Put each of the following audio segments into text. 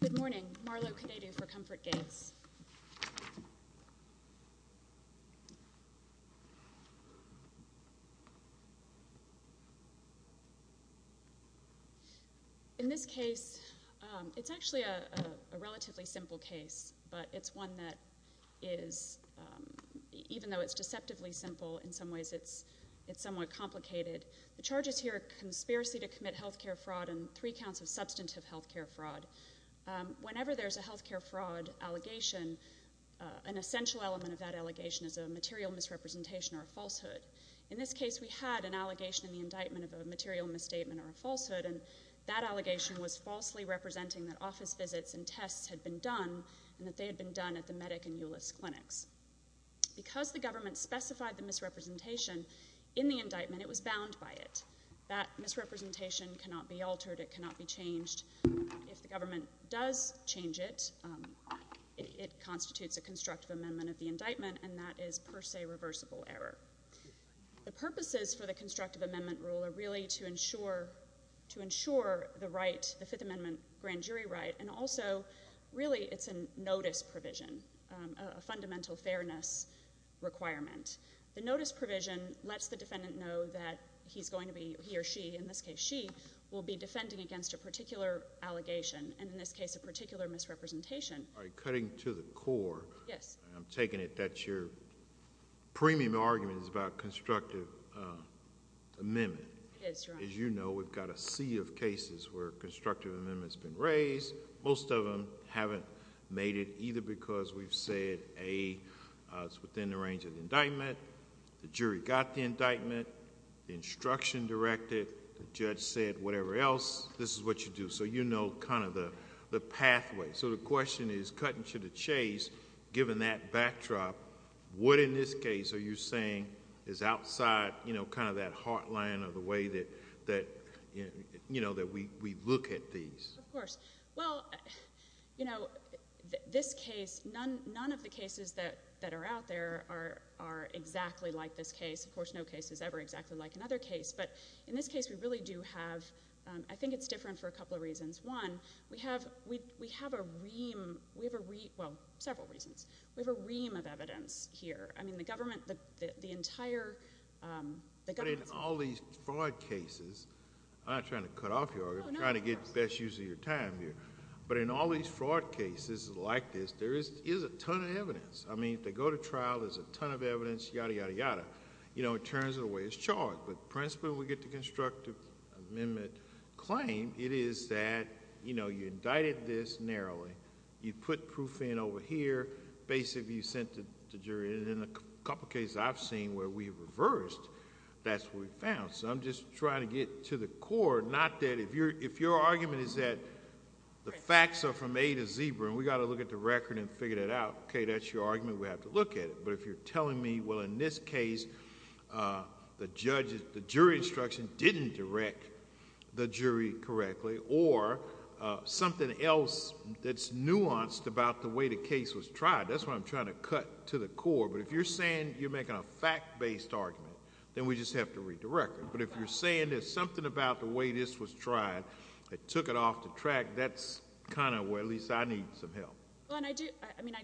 Good morning, Marlo Koudetou for Comfort Gates. In this case, it's actually a relatively simple case, but it's one that is, even though it's deceptively simple, in some ways it's somewhat complicated. The charges here are conspiracy to commit health care fraud and three counts of substantive health care fraud. Whenever there's a health care fraud allegation, an essential element of that allegation is a material misrepresentation or a falsehood. In this case, we had an allegation in the indictment of a material misstatement or a falsehood, and that allegation was falsely representing that office visits and tests had been done and that they had been done at the Medic and Ulis clinics. Because the government specified the misrepresentation in the indictment, it was bound by it. That misrepresentation cannot be altered, it cannot be changed. If the government does change it, it constitutes a constructive amendment of the indictment, and that is per se reversible error. The purposes for the constructive amendment rule are really to ensure the right, the Fifth Amendment grand jury right, and also really it's a notice provision, a fundamental fairness requirement. The notice provision lets the defendant know that he's going to be, he or she, in this case she, will be defending against a particular allegation, and in this case a particular misrepresentation. All right, cutting to the core. Yes. I'm taking it that your premium argument is about constructive amendment. It is, Your Honor. As you know, we've got a sea of cases where constructive amendment has been raised. Most of them haven't made it, either because we've said A, it's within the range of the indictment, B, the jury got the indictment, the instruction directed, the judge said whatever else, this is what you do. So you know kind of the pathway. So the question is, cutting to the chase, given that backdrop, what in this case are you saying is outside kind of that heartland or the way that we look at these? Of course. Well, you know, this case, none of the cases that are out there are exactly like this case. Of course, no case is ever exactly like another case, but in this case we really do have, I think it's different for a couple of reasons. One, we have a ream, well, several reasons. We have a ream of evidence here. I mean the government, the entire... But in all these fraud cases, I'm not trying to cut off you, I'm trying to get the best use of your time here. But in all these fraud cases like this, there is a ton of evidence. I mean if they go to trial, there's a ton of evidence, yada, yada, yada. You know, it turns it away, it's charged. But the principle we get the constructive amendment claim, it is that, you know, you indicted this narrowly, you put proof in over here, basically you sent it to the jury. And in a couple of cases I've seen where we reversed, that's what we found. So I'm just trying to get to the core, not that if your argument is that the facts are from A to Zebra and we've got to look at the record and figure that out, okay, that's your argument, we have to look at it. But if you're telling me, well, in this case the jury instruction didn't direct the jury correctly, or something else that's nuanced about the way the case was tried, that's what I'm trying to cut to the core. But if you're saying you're making a fact-based argument, then we just have to read the record. But if you're saying there's something about the way this was tried that took it off the track, that's kind of where at least I need some help. Well, and I do, I mean,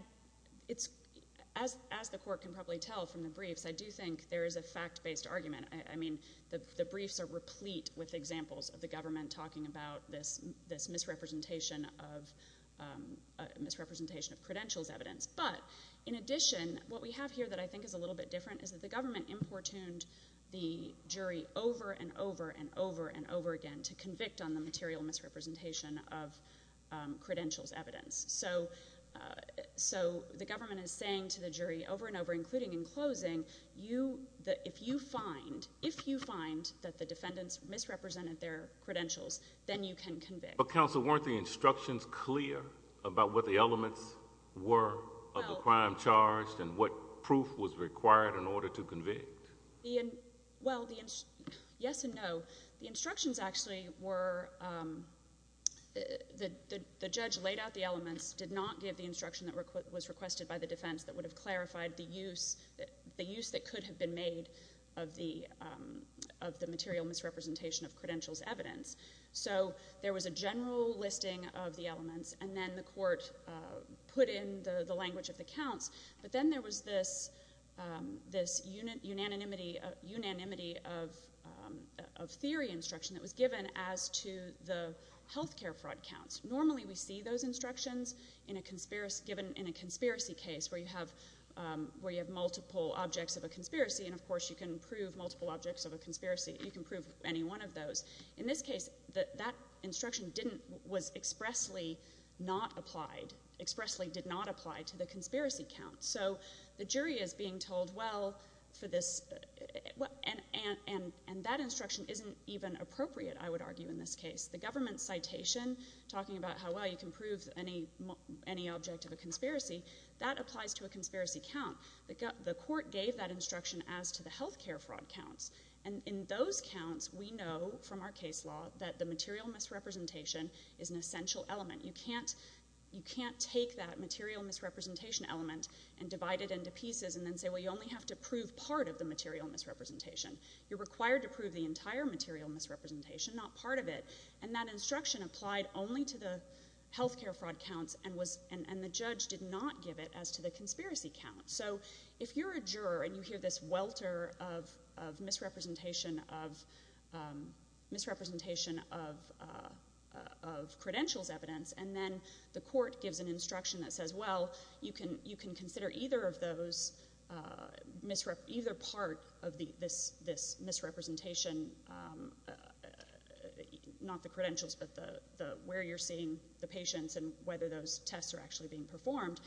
as the court can probably tell from the briefs, I do think there is a fact-based argument. I mean, the briefs are replete with examples of the government talking about this misrepresentation of credentials evidence. But in addition, what we have here that I think is a little bit different is that the government importuned the jury over and over and over and over again to convict on the material misrepresentation of credentials evidence. So the government is saying to the jury over and over, including in closing, if you find that the defendants misrepresented their credentials, then you can convict. But counsel, weren't the instructions clear about what the elements were of the crime charged and what proof was required in order to convict? Well, yes and no. The instructions actually were that the judge laid out the elements, did not give the instruction that was requested by the defense that would have clarified the use that could have been made of the material misrepresentation of credentials evidence. So there was a general listing of the elements, and then the court put in the language of the counts. But then there was this unanimity of theory instruction that was given as to the health care fraud counts. Normally we see those instructions given in a conspiracy case where you have multiple objects of a conspiracy, and of course you can prove multiple objects of a conspiracy. You can prove any one of those. In this case, that instruction was expressly not applied, to the conspiracy count. So the jury is being told, well, and that instruction isn't even appropriate, I would argue, in this case. The government citation talking about how, well, you can prove any object of a conspiracy, that applies to a conspiracy count. The court gave that instruction as to the health care fraud counts. And in those counts, we know from our case law that the material misrepresentation is an essential element. You can't take that material misrepresentation element and divide it into pieces and then say, well, you only have to prove part of the material misrepresentation. You're required to prove the entire material misrepresentation, not part of it. And that instruction applied only to the health care fraud counts, and the judge did not give it as to the conspiracy count. So if you're a juror and you hear this welter of misrepresentation of credentials evidence, and then the court gives an instruction that says, well, you can consider either part of this misrepresentation, not the credentials, but where you're seeing the patients and whether those tests are actually being performed,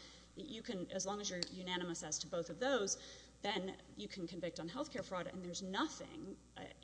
as long as you're unanimous as to both of those, then you can convict on health care fraud. And there's nothing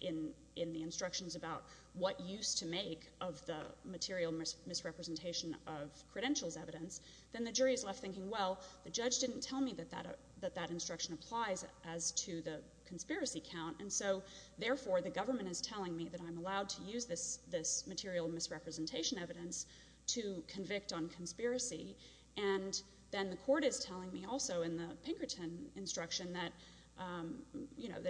in the instructions about what use to make of the material misrepresentation of credentials evidence. Then the jury is left thinking, well, the judge didn't tell me that that instruction applies as to the conspiracy count, and so therefore the government is telling me that I'm allowed to use this material misrepresentation evidence to convict on conspiracy. And then the court is telling me also in the Pinkerton instruction that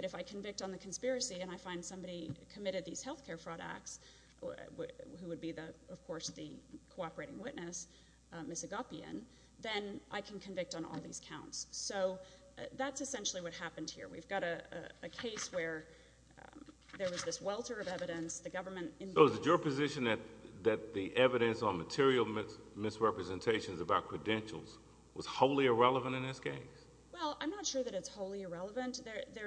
if I convict on the conspiracy and I find somebody committed these health care fraud acts, who would be, of course, the cooperating witness, Ms. Agapian, then I can convict on all these counts. So that's essentially what happened here. We've got a case where there was this welter of evidence. So is it your position that the evidence on material misrepresentations about credentials was wholly irrelevant in this case? Well, I'm not sure that it's wholly irrelevant. There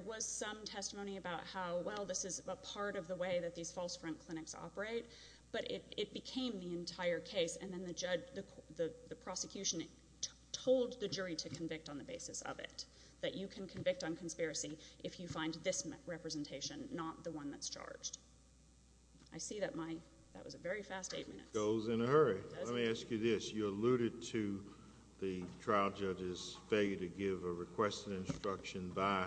was some testimony about how, well, this is a part of the way that these false front clinics operate, but it became the entire case, and then the prosecution told the jury to convict on the basis of it, that you can convict on conspiracy if you find this representation, not the one that's charged. I see that was a very fast eight minutes. It goes in a hurry. Let me ask you this. You alluded to the trial judge's failure to give a requested instruction by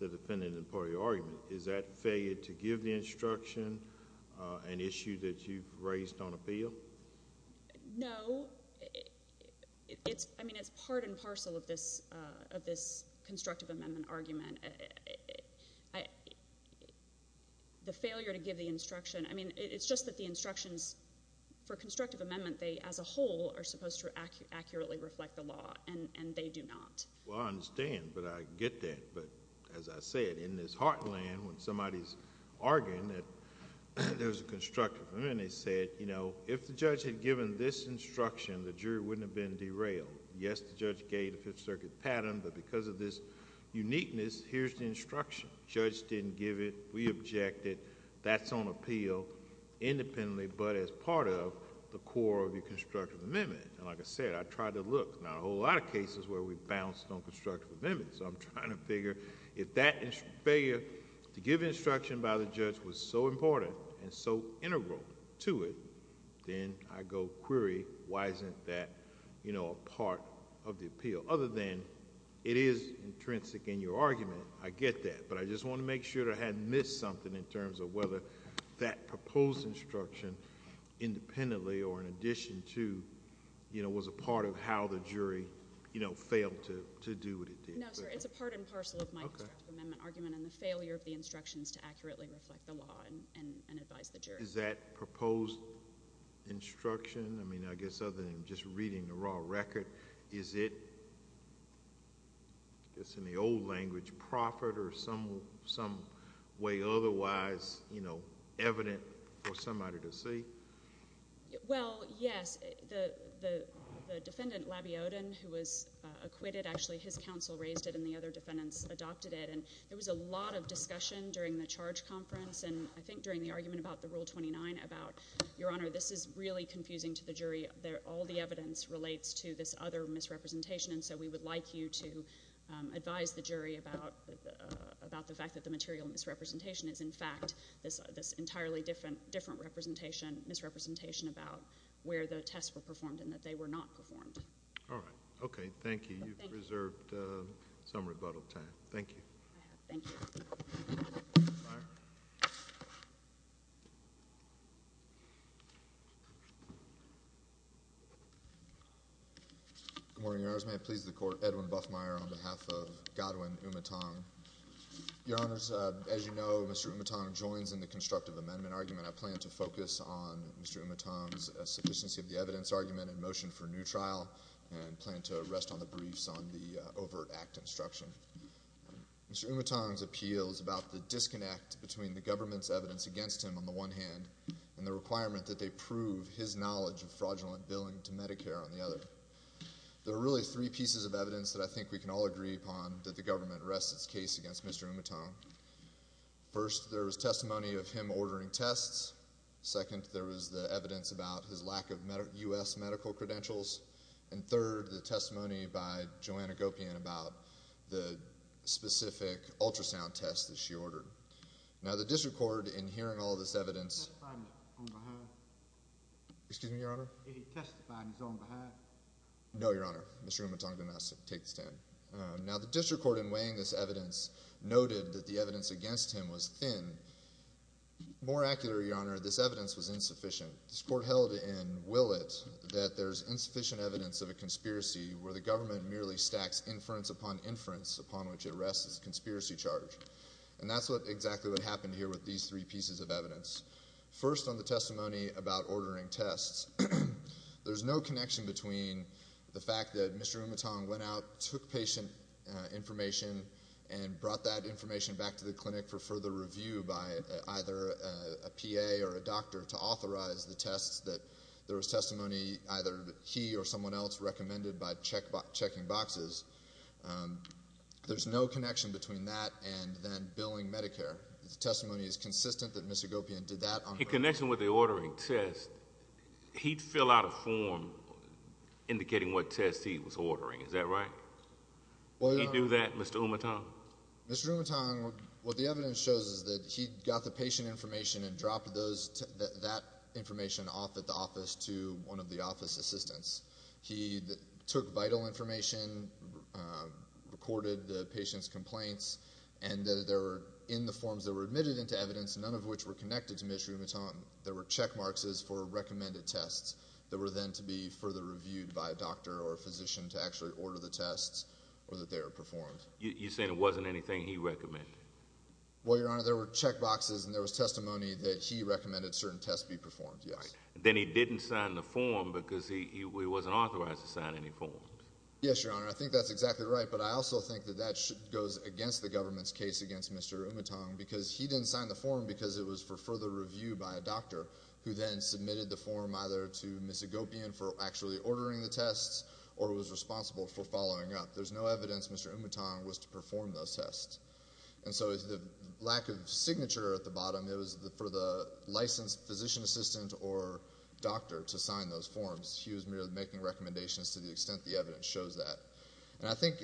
the defendant in part of your argument. Is that failure to give the instruction an issue that you've raised on appeal? No. I mean, it's part and parcel of this constructive amendment argument. The failure to give the instruction, I mean, it's just that the instructions for constructive amendment, they as a whole are supposed to accurately reflect the law, and they do not. Well, I understand, but I get that. But as I said, in this heartland, when somebody's arguing that there's a constructive amendment, they say, you know, if the judge had given this instruction, the jury wouldn't have been derailed. Yes, the judge gave the Fifth Circuit pattern, but because of this uniqueness, here's the instruction. The judge didn't give it. We objected. That's on appeal independently, but as part of the core of your constructive amendment. Like I said, I tried to look. Not a whole lot of cases where we bounced on constructive amendments. I'm trying to figure if that failure to give instruction by the judge was so important and so integral to it, then I go query, why isn't that a part of the appeal? Other than it is intrinsic in your argument, I get that. But I just want to make sure that I hadn't missed something in terms of whether that proposed instruction independently or in addition to was a part of how the jury failed to do what it did. No, sir. It's a part and parcel of my constructive amendment argument and the failure of the instructions to accurately reflect the law and advise the jury. Is that proposed instruction? I mean, I guess other than just reading the raw record, is it, I guess in the old language, profit or some way otherwise evident for somebody to see? Well, yes. The defendant, Labiodon, who was acquitted, actually his counsel raised it and the other defendants adopted it. And there was a lot of discussion during the charge conference and I think during the argument about the Rule 29 about, Your Honor, this is really confusing to the jury. All the evidence relates to this other misrepresentation and so we would like you to advise the jury about the fact that the material misrepresentation is, in fact, this entirely different misrepresentation about where the tests were performed and that they were not performed. All right. Okay, thank you. You've reserved some rebuttal time. Thank you. Thank you. Buffmeyer. Good morning, Your Honors. May it please the Court, Edwin Buffmeyer on behalf of Godwin Umatong. Your Honors, as you know, Mr. Umatong joins in the constructive amendment argument. I plan to focus on Mr. Umatong's sufficiency of the evidence argument in motion for new trial and plan to rest on the briefs on the overt act instruction. Mr. Umatong's appeal is about the disconnect between the government's evidence against him on the one hand and the requirement that they prove his knowledge of fraudulent billing to Medicare on the other. There are really three pieces of evidence that I think we can all agree upon that the government rests its case against Mr. Umatong. First, there was testimony of him ordering tests. Second, there was the evidence about his lack of U.S. medical credentials. And third, the testimony by Joanna Gopian about the specific ultrasound test that she ordered. Now, the district court, in hearing all this evidence Did he testify on his own behalf? Excuse me, Your Honor? Did he testify on his own behalf? No, Your Honor. Mr. Umatong did not take the stand. Now, the district court, in weighing this evidence, noted that the evidence against him was thin. More accurately, Your Honor, this evidence was insufficient. This court held in Willett that there's insufficient evidence of a conspiracy where the government merely stacks inference upon inference upon which it rests its conspiracy charge. And that's exactly what happened here with these three pieces of evidence. First, on the testimony about ordering tests, there's no connection between the fact that Mr. Umatong went out, took patient information, and brought that information back to the clinic for further review by either a PA or a doctor to authorize the tests, that there was testimony either he or someone else recommended by checking boxes. There's no connection between that and then billing Medicare. The testimony is consistent that Ms. Gopian did that on her own. In connection with the ordering test, he'd fill out a form indicating what test he was ordering. Is that right? Well, Your Honor. Did he do that, Mr. Umatong? Mr. Umatong, what the evidence shows is that he got the patient information and dropped that information off at the office to one of the office assistants. He took vital information, recorded the patient's complaints, and in the forms that were admitted into evidence, none of which were connected to Ms. Umatong, there were check marks for recommended tests that were then to be further reviewed by a doctor or a physician to actually order the tests or that they were performed. You're saying it wasn't anything he recommended? Well, Your Honor, there were check boxes and there was testimony that he recommended certain tests be performed, yes. Then he didn't sign the form because he wasn't authorized to sign any form. Yes, Your Honor. I think that's exactly right, but I also think that that goes against the government's case against Mr. Umatong because he didn't sign the form because it was for further review by a doctor who then submitted the form either to Ms. Gopian for actually ordering the tests or was responsible for following up. There's no evidence Mr. Umatong was to perform those tests. And so the lack of signature at the bottom, it was for the licensed physician assistant or doctor to sign those forms. He was merely making recommendations to the extent the evidence shows that. And I think,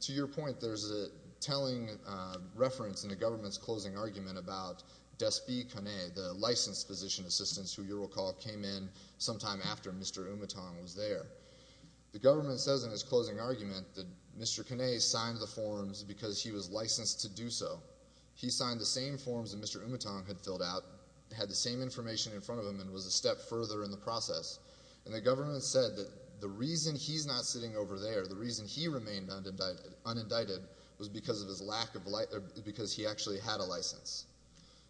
to your point, there's a telling reference in the government's closing argument about Despy Kanay, the licensed physician assistant, who you'll recall came in sometime after Mr. Umatong was there. The government says in its closing argument that Mr. Kanay signed the forms because he was licensed to do so. He signed the same forms that Mr. Umatong had filled out, had the same information in front of him, and was a step further in the process. And the government said that the reason he's not sitting over there, the reason he remained unindicted, was because he actually had a license.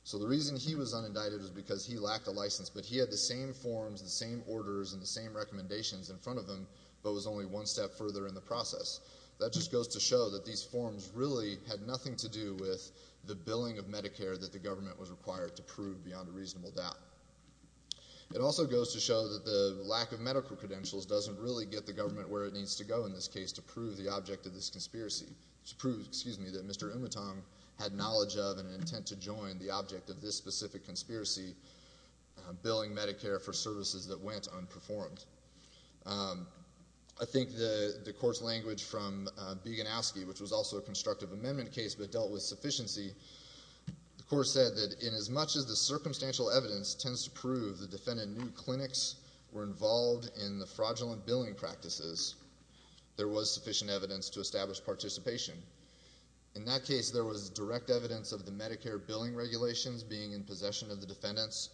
So the reason he was unindicted was because he lacked a license, but he had the same forms, the same orders, and the same recommendations in front of him, but was only one step further in the process. That just goes to show that these forms really had nothing to do with the billing of Medicare that the government was required to prove beyond a reasonable doubt. It also goes to show that the lack of medical credentials doesn't really get the government where it needs to go in this case to prove the object of this conspiracy, to prove, excuse me, that Mr. Umatong had knowledge of and an intent to join the object of this specific conspiracy, billing Medicare for services that went unperformed. I think the court's language from Bieganowski, which was also a constructive amendment case, but dealt with sufficiency, the court said that in as much as the circumstantial evidence tends to prove the defendant knew clinics were involved in the fraudulent billing practices, there was sufficient evidence to establish participation. In that case, there was direct evidence of the Medicare billing regulations being in possession of the defendants,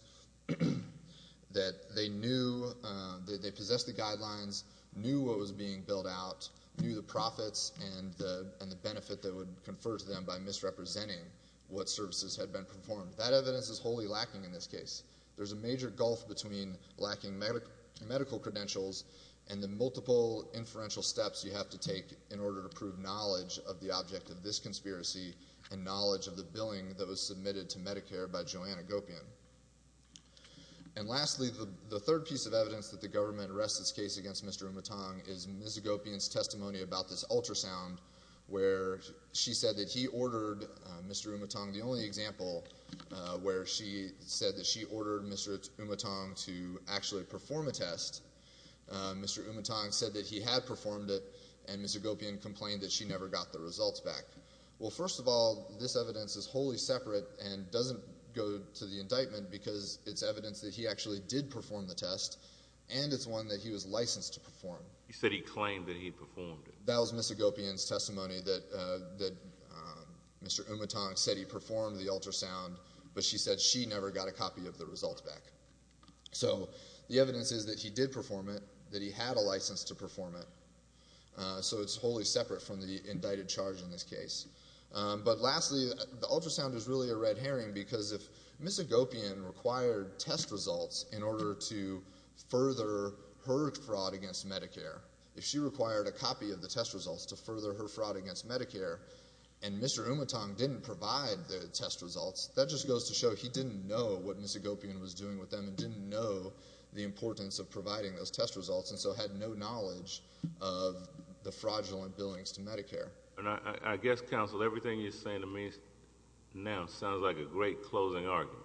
that they possessed the guidelines, knew what was being billed out, knew the profits and the benefit that would confer to them by misrepresenting what services had been performed. That evidence is wholly lacking in this case. There's a major gulf between lacking medical credentials and the multiple inferential steps you have to take in order to prove knowledge of the object of this conspiracy and knowledge of the billing that was submitted to Medicare by Joanna Gopian. And lastly, the third piece of evidence that the government arrests this case against Mr. Umutong is Ms. Gopian's testimony about this ultrasound, where she said that he ordered Mr. Umutong, the only example where she said that she ordered Mr. Umutong to actually perform a test, Mr. Umutong said that he had performed it, and Ms. Gopian complained that she never got the results back. Well, first of all, this evidence is wholly separate and doesn't go to the indictment because it's evidence that he actually did perform the test and it's one that he was licensed to perform. You said he claimed that he performed it. That was Ms. Gopian's testimony that Mr. Umutong said he performed the ultrasound, but she said she never got a copy of the results back. So the evidence is that he did perform it, that he had a license to perform it, so it's wholly separate from the indicted charge in this case. But lastly, the ultrasound is really a red herring because if Ms. Gopian required test results in order to further her fraud against Medicare, if she required a copy of the test results to further her fraud against Medicare and Mr. Umutong didn't provide the test results, that just goes to show he didn't know what Ms. Gopian was doing with them and didn't know the importance of providing those test results and so had no knowledge of the fraudulent billings to Medicare. And I guess, counsel, everything you're saying to me now sounds like a great closing argument,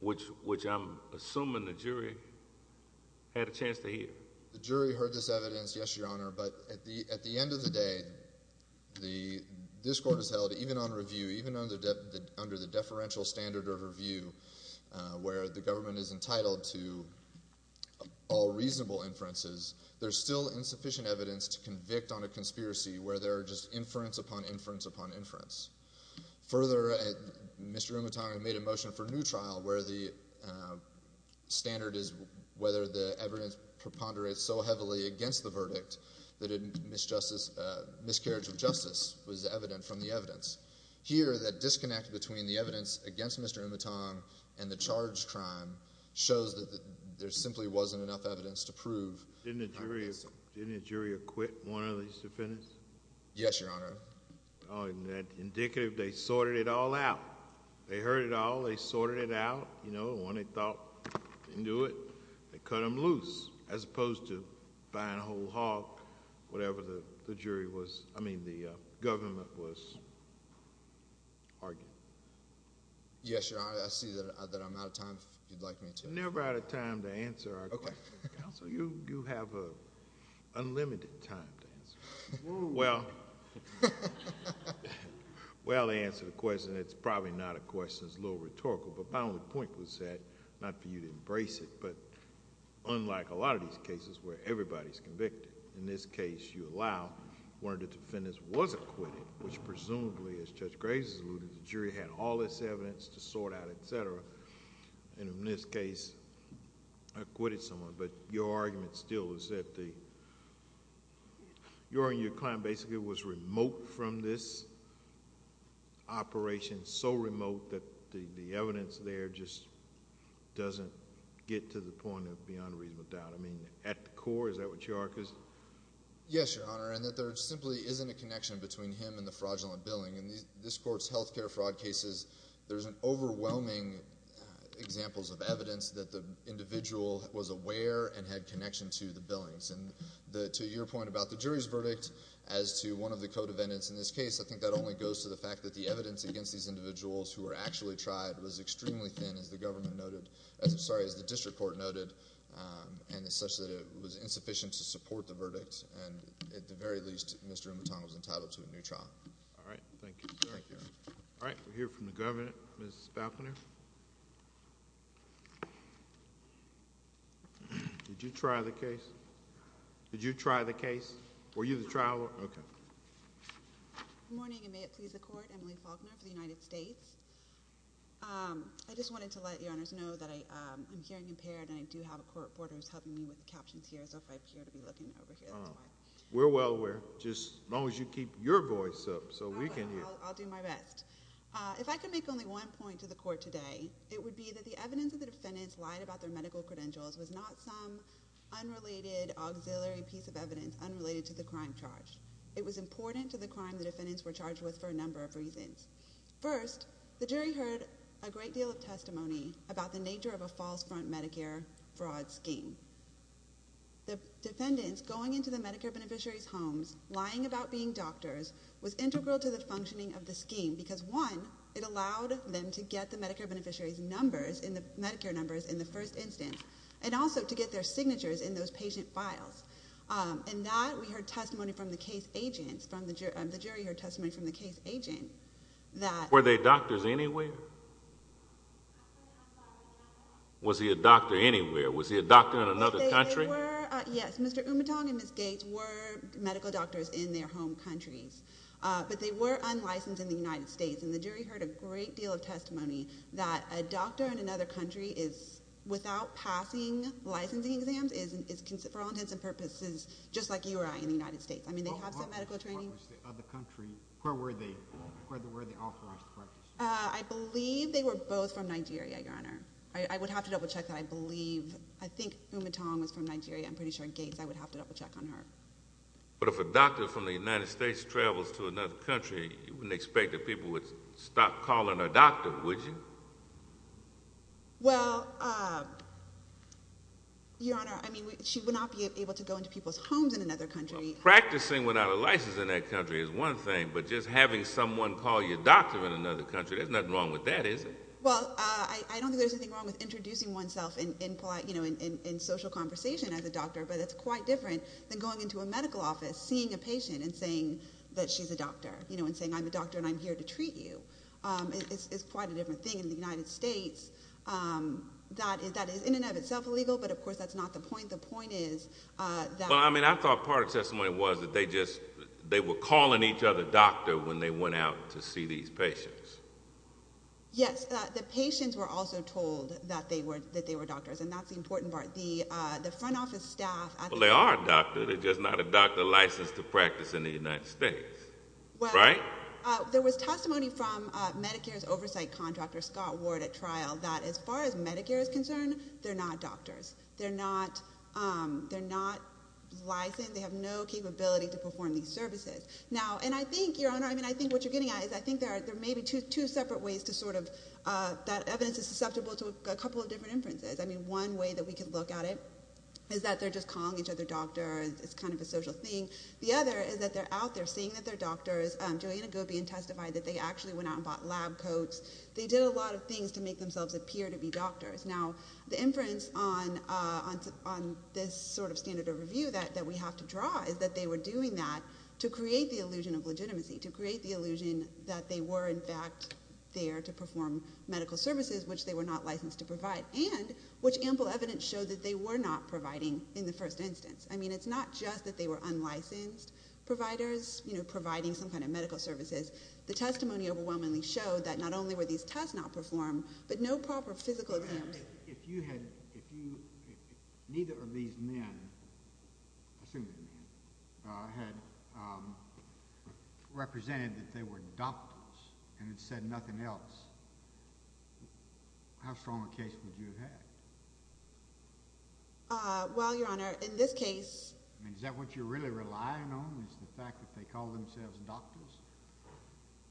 which I'm assuming the jury had a chance to hear. The jury heard this evidence, yes, Your Honor, but at the end of the day, this court has held, even on review, even under the deferential standard of review, where the government is entitled to all reasonable inferences, there's still insufficient evidence to convict on a conspiracy where there are just inference upon inference upon inference. Further, Mr. Umutong made a motion for a new trial where the standard is whether the evidence preponderates so heavily against the verdict that a miscarriage of justice was evident from the evidence. Here, that disconnect between the evidence against Mr. Umutong and the charged crime shows that there simply wasn't enough evidence to prove. Didn't the jury acquit one of these defendants? Yes, Your Honor. Oh, isn't that indicative? They sorted it all out. They heard it all. They sorted it out. You know, when they thought they knew it, they cut them loose as opposed to buying a whole hog, whatever the government was arguing. Yes, Your Honor. I see that I'm out of time. If you'd like me to... You're never out of time to answer our question. Counsel, you have unlimited time to answer. Well, to answer the question, it's probably not a question that's a little rhetorical, but my only point was that, not for you to embrace it, but unlike a lot of these cases where everybody's convicted, in this case you allow one of the defendants wasn't acquitted, which presumably, as Judge Graves alluded, the jury had all this evidence to sort out, et cetera, and in this case acquitted someone. But your argument still is that your claim basically was remote from this operation, so remote that the evidence there just doesn't get to the point of beyond reasonable doubt. I mean, at the core, is that what you are? Yes, Your Honor. And that there simply isn't a connection between him and the fraudulent billing. In this court's health care fraud cases, there's overwhelming examples of evidence that the individual was aware and had connection to the billings. And to your point about the jury's verdict as to one of the co-defendants in this case, I think that only goes to the fact that the evidence against these individuals who were actually tried was extremely thin, as the district court noted, and such that it was insufficient to support the verdict. And at the very least, Mr. Mouton was entitled to a new trial. All right. Thank you, sir. Thank you. All right. We'll hear from the governor. Ms. Falconer? Did you try the case? Did you try the case? Were you the trial lawyer? Okay. Good morning, and may it please the Court. Emily Faulkner for the United States. I just wanted to let Your Honors know that I'm hearing impaired, and I do have a court reporter who's helping me with the captions here. So if I appear to be looking over here, that's fine. We're well aware, as long as you keep your voice up so we can hear. I'll do my best. If I could make only one point to the Court today, it would be that the evidence that the defendants lied about their medical credentials was not some unrelated auxiliary piece of evidence unrelated to the crime charge. It was important to the crime the defendants were charged with for a number of reasons. First, the jury heard a great deal of testimony about the nature of a false front Medicare fraud scheme. The defendants going into the Medicare beneficiaries' homes, lying about being doctors, was integral to the functioning of the scheme because, one, it allowed them to get the Medicare beneficiaries' numbers in the first instance and also to get their signatures in those patient files. In that, we heard testimony from the case agents. The jury heard testimony from the case agent that— Were they doctors anywhere? Was he a doctor anywhere? Was he a doctor in another country? Yes, Mr. Umatong and Ms. Gates were medical doctors in their home countries, but they were unlicensed in the United States, and the jury heard a great deal of testimony that a doctor in another country without passing licensing exams is, for all intents and purposes, just like you or I in the United States. I mean, they have some medical training. What was the other country? Where were they authorized to practice? I believe they were both from Nigeria, Your Honor. I would have to double-check that. I believe—I think Umatong was from Nigeria. I'm pretty sure Gates. I would have to double-check on her. But if a doctor from the United States travels to another country, you wouldn't expect that people would stop calling her doctor, would you? Well, Your Honor, I mean, she would not be able to go into people's homes in another country. Practicing without a license in that country is one thing, but just having someone call you doctor in another country, there's nothing wrong with that, is there? Well, I don't think there's anything wrong with introducing oneself in social conversation as a doctor, but it's quite different than going into a medical office, seeing a patient, and saying that she's a doctor, and saying, I'm a doctor and I'm here to treat you. It's quite a different thing in the United States. That is, in and of itself, illegal, but of course that's not the point. The point is that— Well, I mean, I thought part of the testimony was that they just— they were calling each other doctor when they went out to see these patients. Yes, the patients were also told that they were doctors, and that's the important part. The front office staff— Well, they are a doctor. They're just not a doctor licensed to practice in the United States, right? There was testimony from Medicare's oversight contractor, Scott Ward, at trial, that as far as Medicare is concerned, they're not doctors. They're not licensed. They have no capability to perform these services. Now, and I think, Your Honor, I mean, I think what you're getting at is I think there may be two separate ways to sort of— that evidence is susceptible to a couple of different inferences. I mean, one way that we could look at it is that they're just calling each other doctor. It's kind of a social thing. The other is that they're out there seeing that they're doctors. Joanna Gopian testified that they actually went out and bought lab coats. They did a lot of things to make themselves appear to be doctors. Now, the inference on this sort of standard of review that we have to draw is that they were doing that to create the illusion of legitimacy, to create the illusion that they were, in fact, there to perform medical services, which they were not licensed to provide, and which ample evidence showed that they were not providing in the first instance. I mean, it's not just that they were unlicensed providers, you know, providing some kind of medical services. The testimony overwhelmingly showed that not only were these tests not performed, but no proper physical exams— If you had—if you—neither of these men—assume they're men— had represented that they were doctors and had said nothing else, how strong a case would you have had? Well, Your Honor, in this case— I mean, is that what you're really relying on is the fact that they call themselves doctors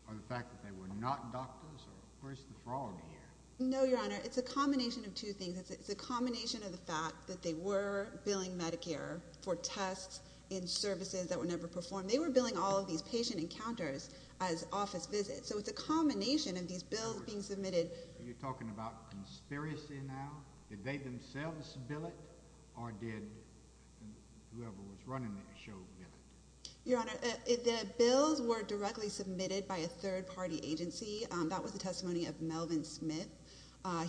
or the fact that they were not doctors? Or where's the fraud here? No, Your Honor. It's a combination of two things. It's a combination of the fact that they were billing Medicare for tests and services that were never performed. They were billing all of these patient encounters as office visits. So it's a combination of these bills being submitted. You're talking about conspiracy now? Did they themselves bill it or did whoever was running that show bill it? Your Honor, the bills were directly submitted by a third-party agency. That was the testimony of Melvin Smith.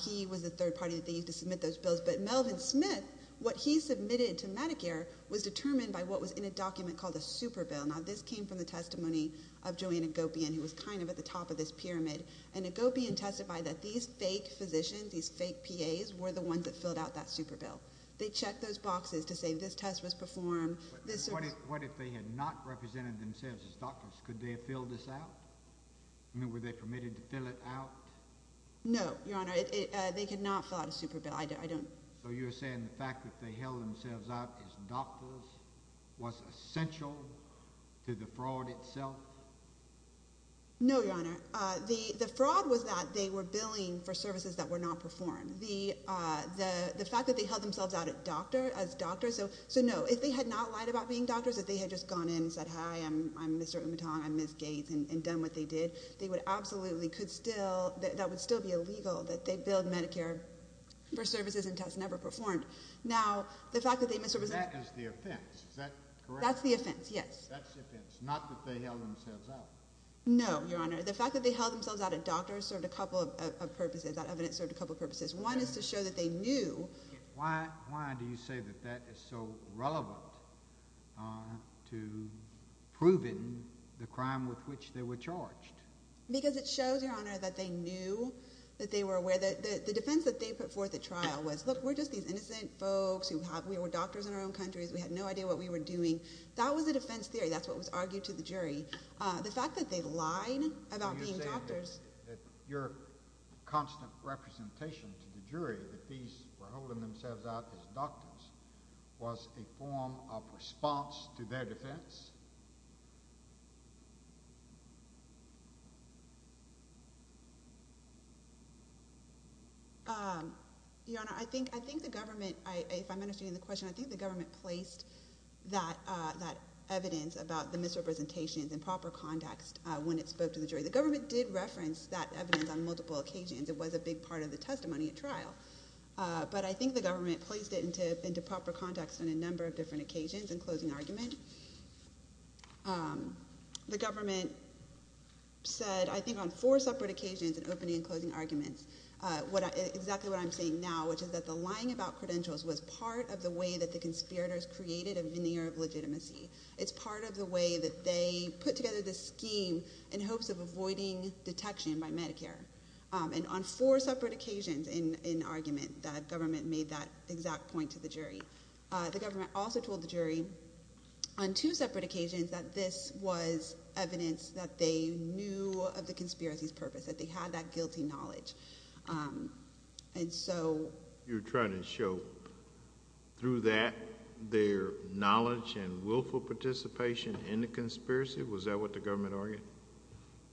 He was the third party that they used to submit those bills. But Melvin Smith, what he submitted to Medicare was determined by what was in a document called a super bill. Now, this came from the testimony of Joanne Agopian, who was kind of at the top of this pyramid. And Agopian testified that these fake physicians, these fake PAs, were the ones that filled out that super bill. They checked those boxes to say this test was performed. What if they had not represented themselves as doctors? Could they have filled this out? I mean, were they permitted to fill it out? No, Your Honor. They could not fill out a super bill. I don't— So you're saying the fact that they held themselves out as doctors was essential to the fraud itself? No, Your Honor. The fraud was that they were billing for services that were not performed. The fact that they held themselves out as doctors— So, no, if they had not lied about being doctors, if they had just gone in and said, Hi, I'm Mr. Umetong, I'm Ms. Gates, and done what they did, they would absolutely could still—that would still be illegal that they billed Medicare for services and tests never performed. Now, the fact that they— So that is the offense. Is that correct? That's the offense, yes. That's the offense, not that they held themselves out. No, Your Honor. The fact that they held themselves out as doctors served a couple of purposes. That evidence served a couple of purposes. One is to show that they knew— Why do you say that that is so relevant to proving the crime with which they were charged? Because it shows, Your Honor, that they knew, that they were aware. The defense that they put forth at trial was, Look, we're just these innocent folks who have—we were doctors in our own countries. We had no idea what we were doing. That was a defense theory. That's what was argued to the jury. The fact that they lied about being doctors— When you say that your constant representation to the jury that these were holding themselves out as doctors was a form of response to their defense? Your Honor, I think the government, if I'm understanding the question, I think the government placed that evidence about the misrepresentations in proper context when it spoke to the jury. The government did reference that evidence on multiple occasions. It was a big part of the testimony at trial. But I think the government placed it into proper context on a number of different occasions in closing argument. The government said, I think, on four separate occasions in opening and closing arguments, exactly what I'm saying now, which is that the lying about credentials was part of the way that the conspirators created a veneer of legitimacy. It's part of the way that they put together this scheme in hopes of avoiding detection by Medicare. And on four separate occasions in argument, the government made that exact point to the jury. The government also told the jury on two separate occasions that this was evidence that they knew of the conspiracy's purpose, that they had that guilty knowledge. You're trying to show through that their knowledge and willful participation in the conspiracy? Was that what the government argued?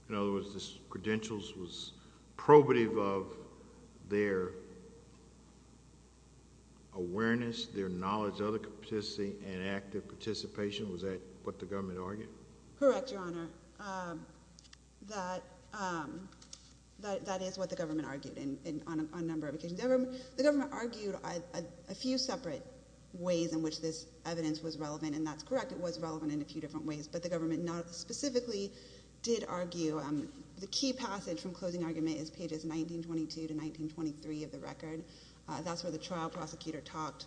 In other words, this credentials was probative of their awareness, their knowledge, other capacity, and active participation? Was that what the government argued? Correct, Your Honor. That is what the government argued on a number of occasions. The government argued a few separate ways in which this evidence was relevant, and that's correct. It was relevant in a few different ways, but the government not specifically did argue. The key passage from closing argument is pages 1922 to 1923 of the record. That's where the trial prosecutor talked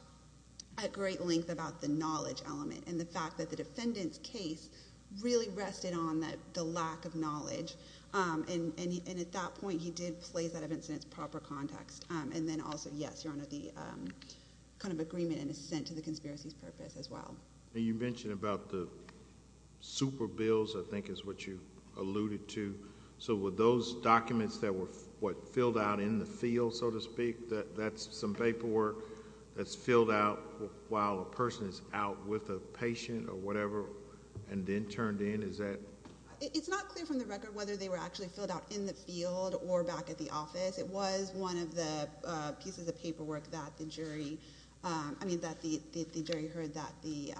at great length about the knowledge element and the fact that the defendant's case really rested on the lack of knowledge. And at that point, he did place that evidence in its proper context. And then also, yes, Your Honor, the kind of agreement and assent to the conspiracy's purpose as well. You mentioned about the super bills, I think is what you alluded to. So were those documents that were what filled out in the field, so to speak, that's some paperwork that's filled out while a person is out with a patient or whatever and then turned in? Is that? It's not clear from the record whether they were actually filled out in the field or back at the office. It was one of the pieces of paperwork that the jury, I mean, that the jury heard that the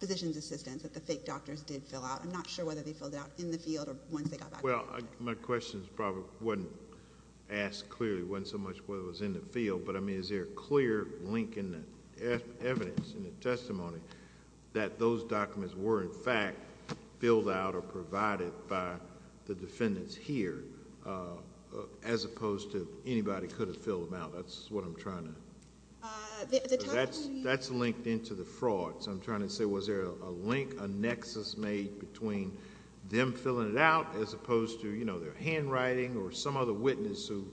physician's assistants, that the fake doctors did fill out. I'm not sure whether they filled it out in the field or once they got back. Well, my question probably wasn't asked clearly, wasn't so much whether it was in the field. But, I mean, is there a clear link in the evidence, in the testimony, that those documents were, in fact, filled out or provided by the defendants here, as opposed to anybody could have filled them out? That's what I'm trying to... That's linked into the fraud. So I'm trying to say was there a link, a nexus made between them filling it out as opposed to, you know, their handwriting or some other witness who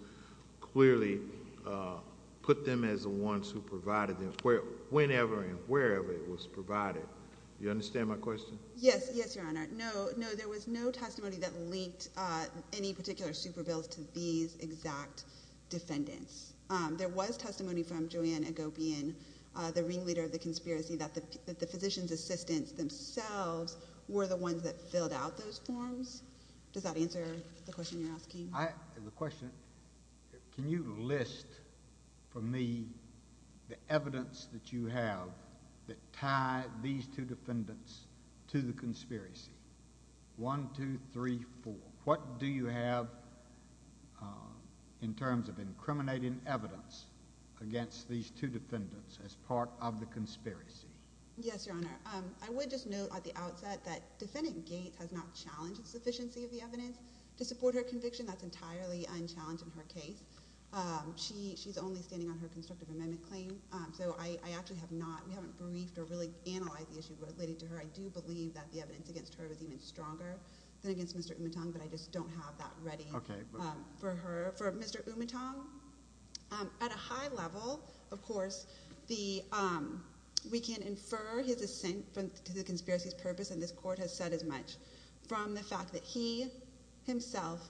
clearly put them as the ones who provided them, whenever and wherever it was provided. Do you understand my question? Yes. Yes, Your Honor. No, there was no testimony that linked any particular super bills to these exact defendants. There was testimony from Joanne Agopian, the ringleader of the conspiracy, that the physician's assistants themselves were the ones that filled out those forms. Does that answer the question you're asking? The question, can you list for me the evidence that you have that tied these two defendants to the conspiracy? One, two, three, four. What do you have in terms of incriminating evidence against these two defendants as part of the conspiracy? Yes, Your Honor. I would just note at the outset that Defendant Gates has not challenged the sufficiency of the evidence to support her conviction. That's entirely unchallenged in her case. She's only standing on her constructive amendment claim. So I actually have not—we haven't briefed or really analyzed the issue related to her. I do believe that the evidence against her is even stronger than against Mr. Umetong, but I just don't have that ready for her—for Mr. Umetong. At a high level, of course, we can infer his assent to the conspiracy's purpose, and this Court has said as much, from the fact that he himself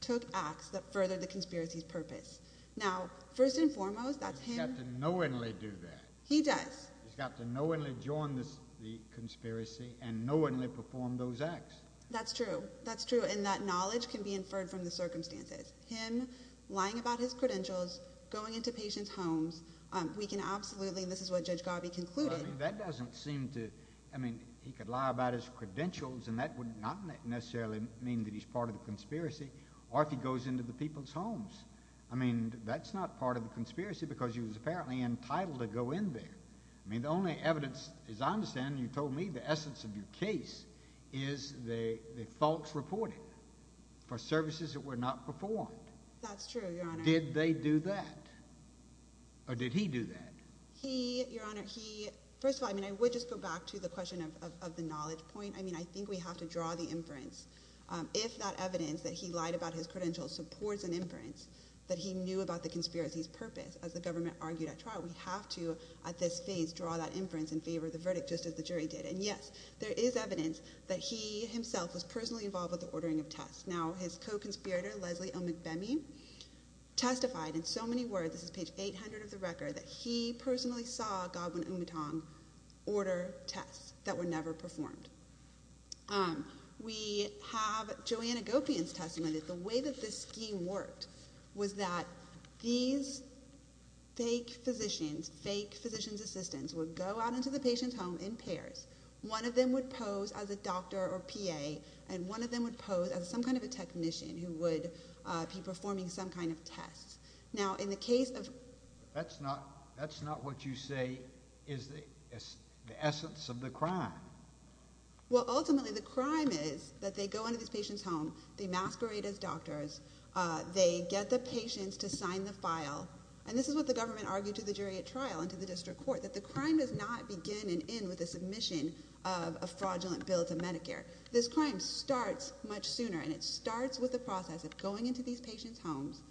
took acts that furthered the conspiracy's purpose. Now, first and foremost, that's him— He's got to knowingly do that. He does. He's got to knowingly join the conspiracy and knowingly perform those acts. That's true. That's true, and that knowledge can be inferred from the circumstances. Him lying about his credentials, going into patients' homes, we can absolutely—and this is what Judge Garvey concluded— That doesn't seem to—I mean, he could lie about his credentials, and that would not necessarily mean that he's part of the conspiracy, or if he goes into the people's homes. I mean, that's not part of the conspiracy because he was apparently entitled to go in there. I mean, the only evidence, as I understand, you told me, the essence of your case, is the false reporting for services that were not performed. That's true, Your Honor. Did they do that, or did he do that? He, Your Honor, he—first of all, I mean, I would just go back to the question of the knowledge point. I mean, I think we have to draw the inference. If that evidence that he lied about his credentials supports an inference that he knew about the conspiracy's purpose, as the government argued at trial, we have to, at this phase, draw that inference in favor of the verdict, just as the jury did. And, yes, there is evidence that he himself was personally involved with the ordering of tests. Now, his co-conspirator, Leslie O. McBemmey, testified in so many words—this is page 800 of the record— that he personally saw Godwin-Umatong order tests that were never performed. We have Joanna Gopian's testimony that the way that this scheme worked was that these fake physicians, fake physician's assistants, would go out into the patient's home in pairs. One of them would pose as a doctor or PA, and one of them would pose as some kind of a technician who would be performing some kind of test. Now, in the case of— That's not what you say is the essence of the crime. Well, ultimately, the crime is that they go into this patient's home, they masquerade as doctors, they get the patients to sign the file. And this is what the government argued to the jury at trial and to the district court, that the crime does not begin and end with the submission of a fraudulent bill to Medicare. This crime starts much sooner, and it starts with the process of going into these patients' homes,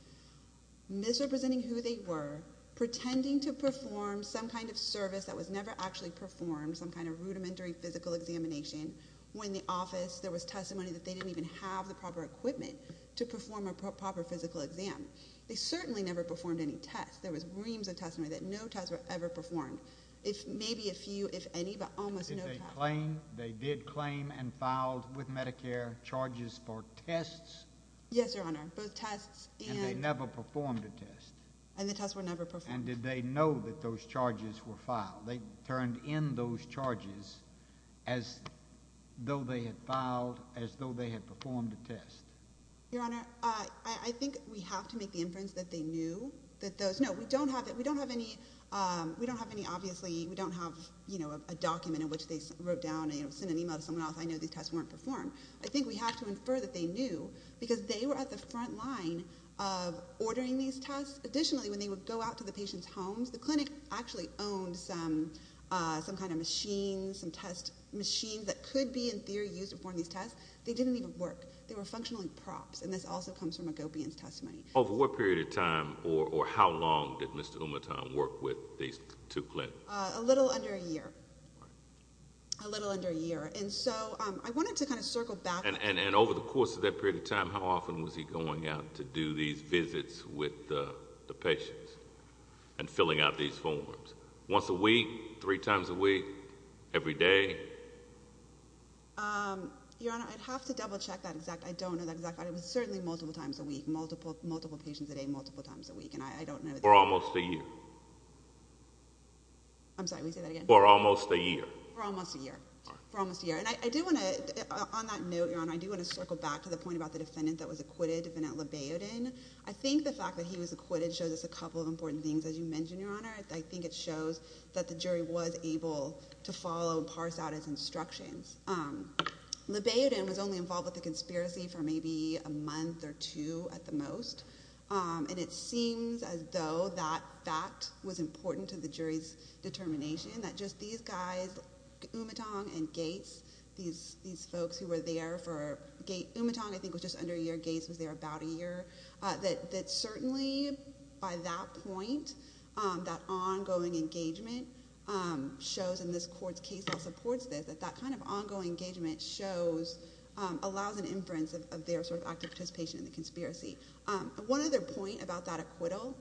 misrepresenting who they were, pretending to perform some kind of service that was never actually performed, some kind of rudimentary physical examination, when in the office there was testimony that they didn't even have the proper equipment to perform a proper physical exam. They certainly never performed any tests. There was reams of testimony that no tests were ever performed, if maybe a few, if any, but almost no tests. They did claim and filed with Medicare charges for tests? Yes, Your Honor. Both tests and— And they never performed a test? And the tests were never performed. And did they know that those charges were filed? They turned in those charges as though they had filed, as though they had performed a test? Your Honor, I think we have to make the inference that they knew that those— No, we don't have any, obviously, we don't have a document in which they wrote down and sent an email to someone else, I know these tests weren't performed. I think we have to infer that they knew because they were at the front line of ordering these tests. Additionally, when they would go out to the patients' homes, the clinic actually owned some kind of machine, some test machines that could be, in theory, used to perform these tests. They didn't even work. Over what period of time, or how long, did Mr. Umatom work with these two clinics? A little under a year. All right. A little under a year. And so I wanted to kind of circle back— And over the course of that period of time, how often was he going out to do these visits with the patients and filling out these forms? Once a week? Three times a week? Every day? Your Honor, I'd have to double-check that exact—I don't know that exact— but it was certainly multiple times a week, multiple patients a day, multiple times a week, and I don't know that— For almost a year. I'm sorry, can you say that again? For almost a year. For almost a year. All right. For almost a year. And I do want to—on that note, Your Honor, I do want to circle back to the point about the defendant that was acquitted, Defendant Libayudin. I think the fact that he was acquitted shows us a couple of important things. As you mentioned, Your Honor, I think it shows that the jury was able to follow and parse out his instructions. Libayudin was only involved with the conspiracy for maybe a month or two at the most, and it seems as though that fact was important to the jury's determination, that just these guys, Umatong and Gates, these folks who were there for— Umatong, I think, was just under a year. Gates was there about a year. That certainly, by that point, that ongoing engagement shows, and this court's case also supports this, that that kind of ongoing engagement shows—allows an inference of their sort of active participation in the conspiracy. One other point about that acquittal,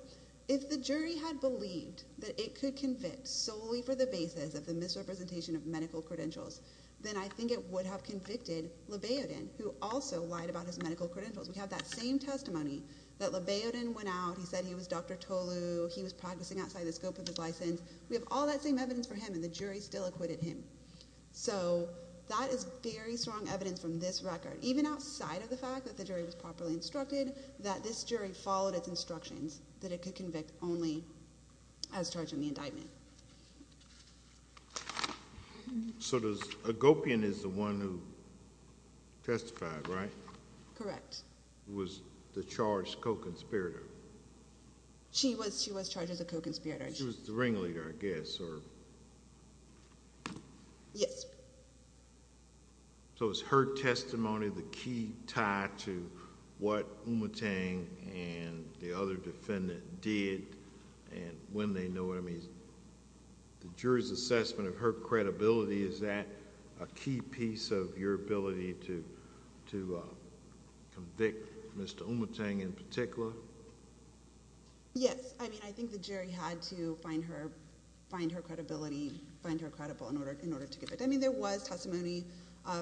if the jury had believed that it could convict solely for the basis of the misrepresentation of medical credentials, then I think it would have convicted Libayudin, who also lied about his medical credentials. We have that same testimony that Libayudin went out, he said he was Dr. Tolu, he was practicing outside the scope of his license. We have all that same evidence for him, and the jury still acquitted him. So that is very strong evidence from this record, even outside of the fact that the jury was properly instructed, that this jury followed its instructions, that it could convict only as charged in the indictment. So does—Gopian is the one who testified, right? Correct. Was the charge co-conspirator? She was. She was charged as a co-conspirator. She was the ringleader, I guess, or— Yes. So is her testimony the key tie to what Umutang and the other defendant did and when they know what it means? The jury's assessment of her credibility, is that a key piece of your ability to convict Mr. Umutang in particular? Yes. I mean, I think the jury had to find her credibility, find her credible in order to give it. I mean, there was testimony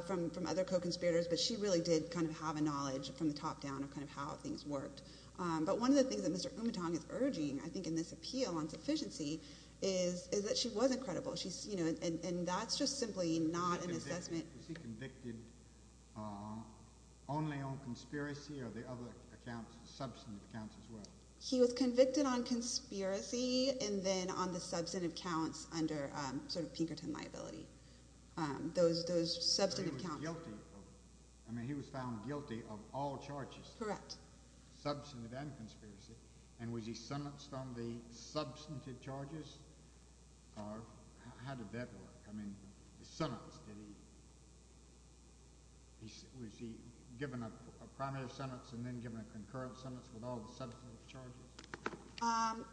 from other co-conspirators, but she really did kind of have a knowledge from the top down of kind of how things worked. But one of the things that Mr. Umutang is urging, I think, in this appeal on sufficiency, is that she wasn't credible. And that's just simply not an assessment— Was he convicted only on conspiracy or the other substantive counts as well? He was convicted on conspiracy and then on the substantive counts under Pinkerton liability. So he was found guilty of all charges? Correct. Substantive and conspiracy. And was he sentenced on the substantive charges? Or how did that work? I mean, the sentence, did he—was he given a primary sentence and then given a concurrent sentence with all the substantive charges?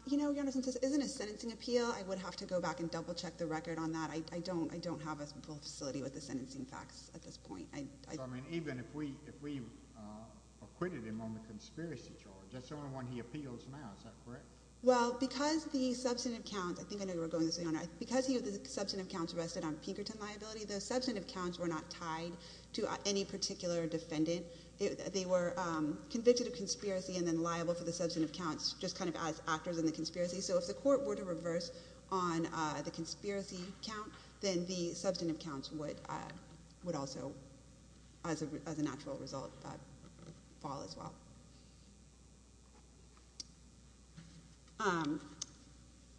You know, Your Honor, since this isn't a sentencing appeal, I would have to go back and double-check the record on that. I don't have a full facility with the sentencing facts at this point. So, I mean, even if we acquitted him on the conspiracy charge, that's the only one he appeals now, is that correct? Well, because the substantive counts—I think I know you were going to say, Your Honor—because the substantive counts rested on Pinkerton liability, the substantive counts were not tied to any particular defendant. They were convicted of conspiracy and then liable for the substantive counts just kind of as actors in the conspiracy. So if the court were to reverse on the conspiracy count, then the substantive counts would also, as a natural result, fall as well.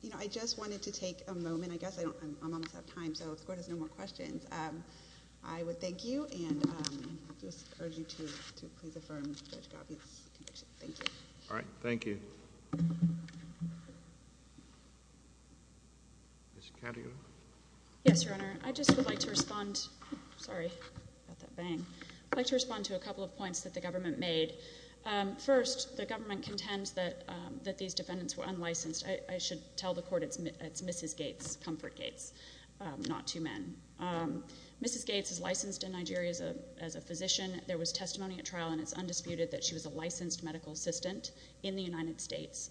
You know, I just wanted to take a moment. I guess I don't—I'm almost out of time. So if the Court has no more questions, I would thank you and just urge you to please affirm Judge Goffey's conviction. Thank you. All right. Thank you. Ms. Calhoun. Yes, Your Honor. I just would like to respond—sorry about that bang. I'd like to respond to a couple of points that the government made. First, the government contends that these defendants were unlicensed. I should tell the Court it's Mrs. Gates, Comfort Gates, not two men. Mrs. Gates is licensed in Nigeria as a physician. There was testimony at trial, and it's undisputed that she was a licensed medical assistant in the United States.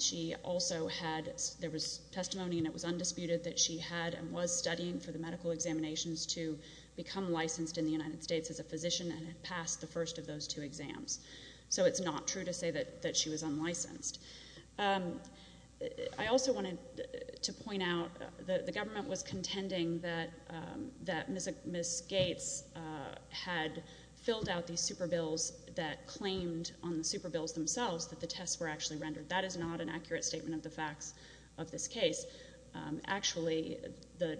She also had—there was testimony, and it was undisputed that she had and was studying for the medical examinations to become licensed in the United States as a physician and had passed the first of those two exams. So it's not true to say that she was unlicensed. I also wanted to point out that the government was contending that Ms. Gates had filled out these super bills that claimed on the super bills themselves that the tests were actually rendered. That is not an accurate statement of the facts of this case. Actually, the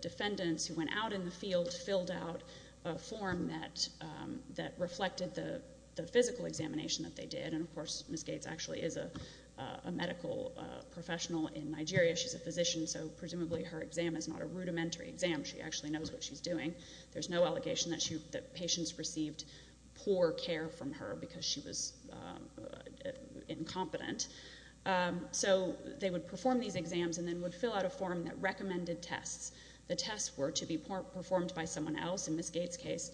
defendants who went out in the field filled out a form that reflected the physical examination that they did, and, of course, Ms. Gates actually is a medical professional in Nigeria. She's a physician, so presumably her exam is not a rudimentary exam. She actually knows what she's doing. There's no allegation that patients received poor care from her because she was incompetent. So they would perform these exams and then would fill out a form that recommended tests. The tests were to be performed by someone else. In Ms. Gates' case,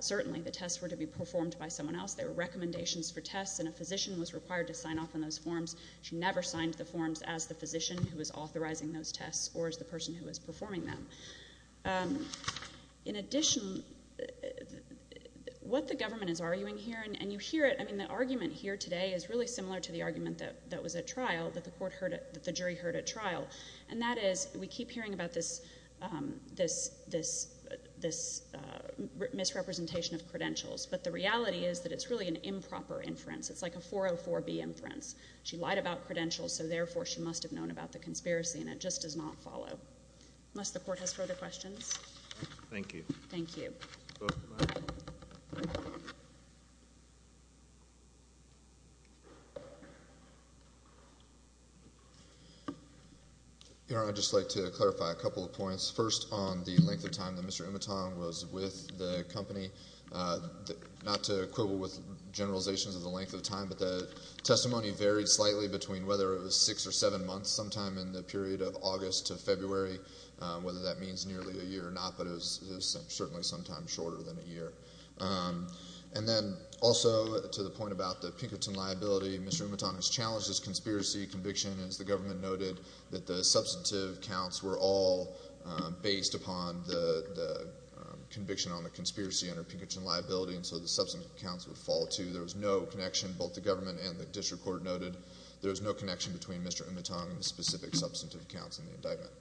certainly the tests were to be performed by someone else. There were recommendations for tests, and a physician was required to sign off on those forms. She never signed the forms as the physician who was authorizing those tests or as the person who was performing them. In addition, what the government is arguing here, and you hear it. I mean, the argument here today is really similar to the argument that was at trial, that the jury heard at trial, and that is we keep hearing about this misrepresentation of credentials, but the reality is that it's really an improper inference. It's like a 404B inference. She lied about credentials, so therefore she must have known about the conspiracy, and it just does not follow. Unless the Court has further questions. Thank you. Thank you. First on the length of time that Mr. Umaton was with the company. Not to quibble with generalizations of the length of time, but the testimony varied slightly between whether it was six or seven months, sometime in the period of August to February, whether that means nearly a year or not, but it was certainly sometimes shorter than a year. And then also to the point about the Pinkerton liability, Mr. Umaton has challenged this conspiracy conviction. As the government noted, that the substantive counts were all based upon the conviction on the conspiracy under Pinkerton liability, and so the substantive counts would fall, too. There was no connection, both the government and the district court noted, there was no connection between Mr. Umaton and the specific substantive counts in the indictment.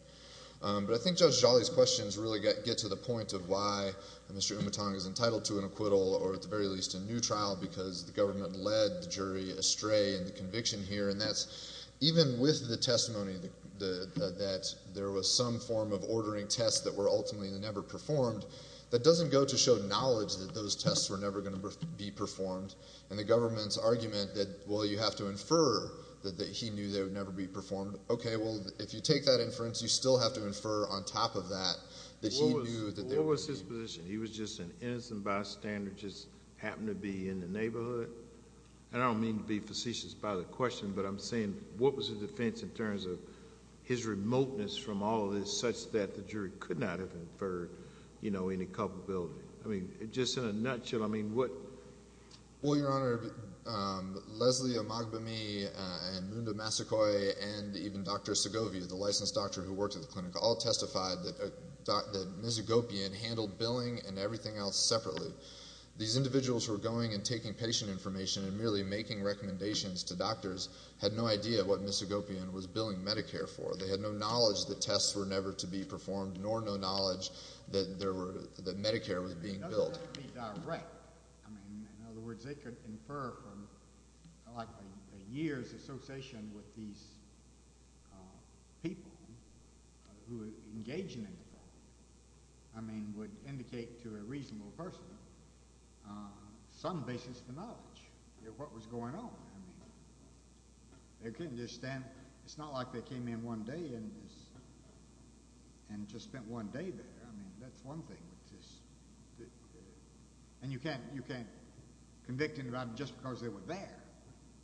But I think Judge Jolly's questions really get to the point of why Mr. Umaton is entitled to an acquittal, or at the very least a new trial, because the government led the jury astray in the conviction here, and that's even with the testimony that there was some form of ordering tests that were ultimately never performed, that doesn't go to show knowledge that those tests were never going to be performed. And the government's argument that, well, you have to infer that he knew they would never be performed, okay, well, if you take that inference, you still have to infer on top of that that he knew that there would be. What was his position? He was just an innocent bystander who just happened to be in the neighborhood? And I don't mean to be facetious by the question, but I'm saying what was his defense in terms of his remoteness from all of this, such that the jury could not have inferred, you know, any culpability? I mean, just in a nutshell, I mean, what? Well, Your Honor, Leslie Omagbami and Munda Masakoi and even Dr. Segovia, the licensed doctor who worked at the clinic, all testified that Ms. Agopian handled billing and everything else separately. These individuals who were going and taking patient information and merely making recommendations to doctors had no idea what Ms. Agopian was billing Medicare for. They had no knowledge that tests were never to be performed, nor no knowledge that Medicare was being billed. I mean, doesn't that be direct? I mean, in other words, they could infer from, like, a year's association with these people who engage in anything. I mean, would indicate to a reasonable person some basis for knowledge of what was going on. I mean, they couldn't just stand. It's not like they came in one day and just spent one day there. I mean, that's one thing. And you can't convict anybody just because they were there.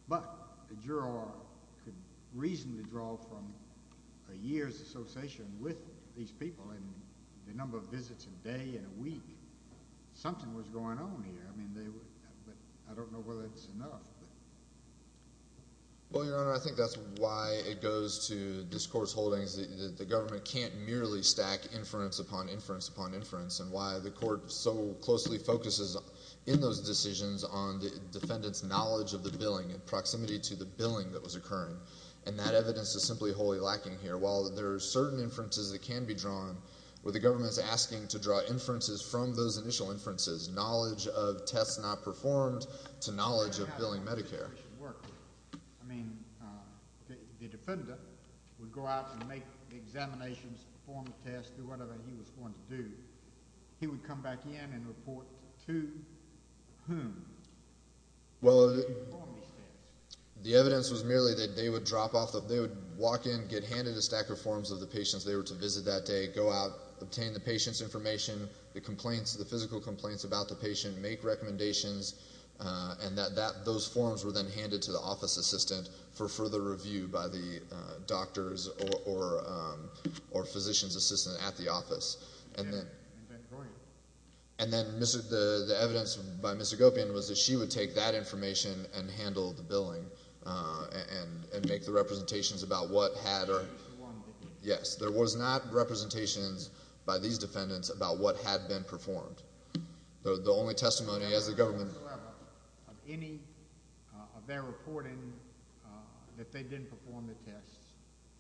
But a juror could reasonably draw from a year's association with these people and the number of visits a day and a week. Something was going on here. I mean, I don't know whether it's enough. Well, Your Honor, I think that's why it goes to this Court's holdings that the government can't merely stack inference upon inference upon inference and why the Court so closely focuses in those decisions on the defendant's knowledge of the billing in proximity to the billing that was occurring. And that evidence is simply wholly lacking here. While there are certain inferences that can be drawn, were the government asking to draw inferences from those initial inferences, knowledge of tests not performed to knowledge of billing Medicare? I mean, the defendant would go out and make examinations, perform tests, do whatever he was going to do. He would come back in and report to whom. Well, the evidence was merely that they would walk in, get handed a stack of forms of the patients they were to visit that day, go out, obtain the patient's information, the physical complaints about the patient, make recommendations, and that those forms were then handed to the office assistant for further review by the doctor's or physician's assistant at the office. And then the evidence by Ms. Agopian was that she would take that information and handle the billing and make the representations about what had or... Yes, there was not representations by these defendants about what had been performed. The only testimony as the government...... of any of their reporting that they didn't perform the tests,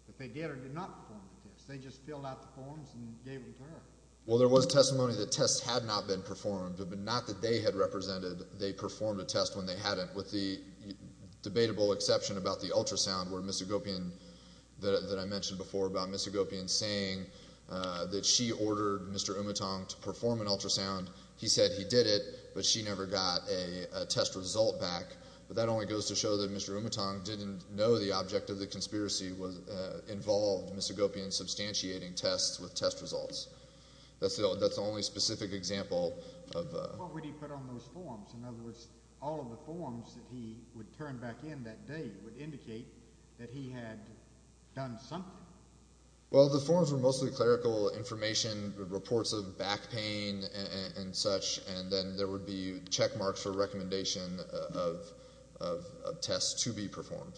that they did or did not perform the tests. They just filled out the forms and gave them to her. Well, there was testimony that tests had not been performed, but not that they had represented they performed a test when they hadn't, with the debatable exception about the ultrasound where Ms. Agopian... that I mentioned before about Ms. Agopian saying that she ordered Mr. Umatong to perform an ultrasound. He said he did it, but she never got a test result back. But that only goes to show that Mr. Umatong didn't know the object of the conspiracy involved Ms. Agopian substantiating tests with test results. That's the only specific example of... What would he put on those forms? In other words, all of the forms that he would turn back in that day would indicate that he had done something. Well, the forms were mostly clerical information, reports of back pain and such, and then there would be checkmarks for recommendation of tests to be performed.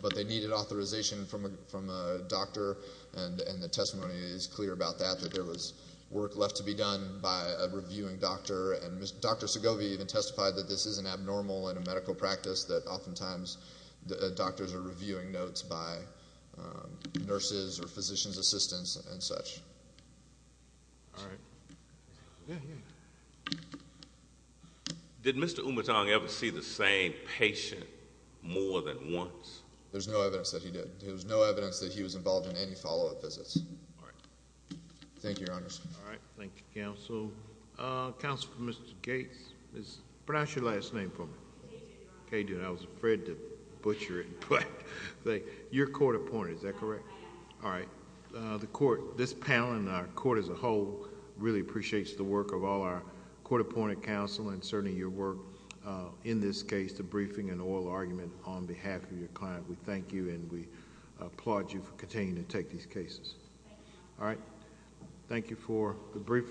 But they needed authorization from a doctor, and the testimony is clear about that, that there was work left to be done by a reviewing doctor. And Dr. Segovia even testified that this is an abnormal in a medical practice, that oftentimes doctors are reviewing notes by nurses or physician's assistants and such. All right. Did Mr. Umatong ever see the same patient more than once? There's no evidence that he did. There was no evidence that he was involved in any follow-up visits. All right. Thank you, Your Honors. All right. Thank you, Counsel. Counsel for Mr. Gates, pronounce your last name for me. Cajun. Cajun. I was afraid to butcher it. Your court appointed, is that correct? All right. This panel and our court as a whole really appreciates the work of all our court appointed counsel and certainly your work in this case, the briefing and oral argument on behalf of your client. We thank you and we applaud you for continuing to take these cases. Thank you. All right. Thank you for the briefing.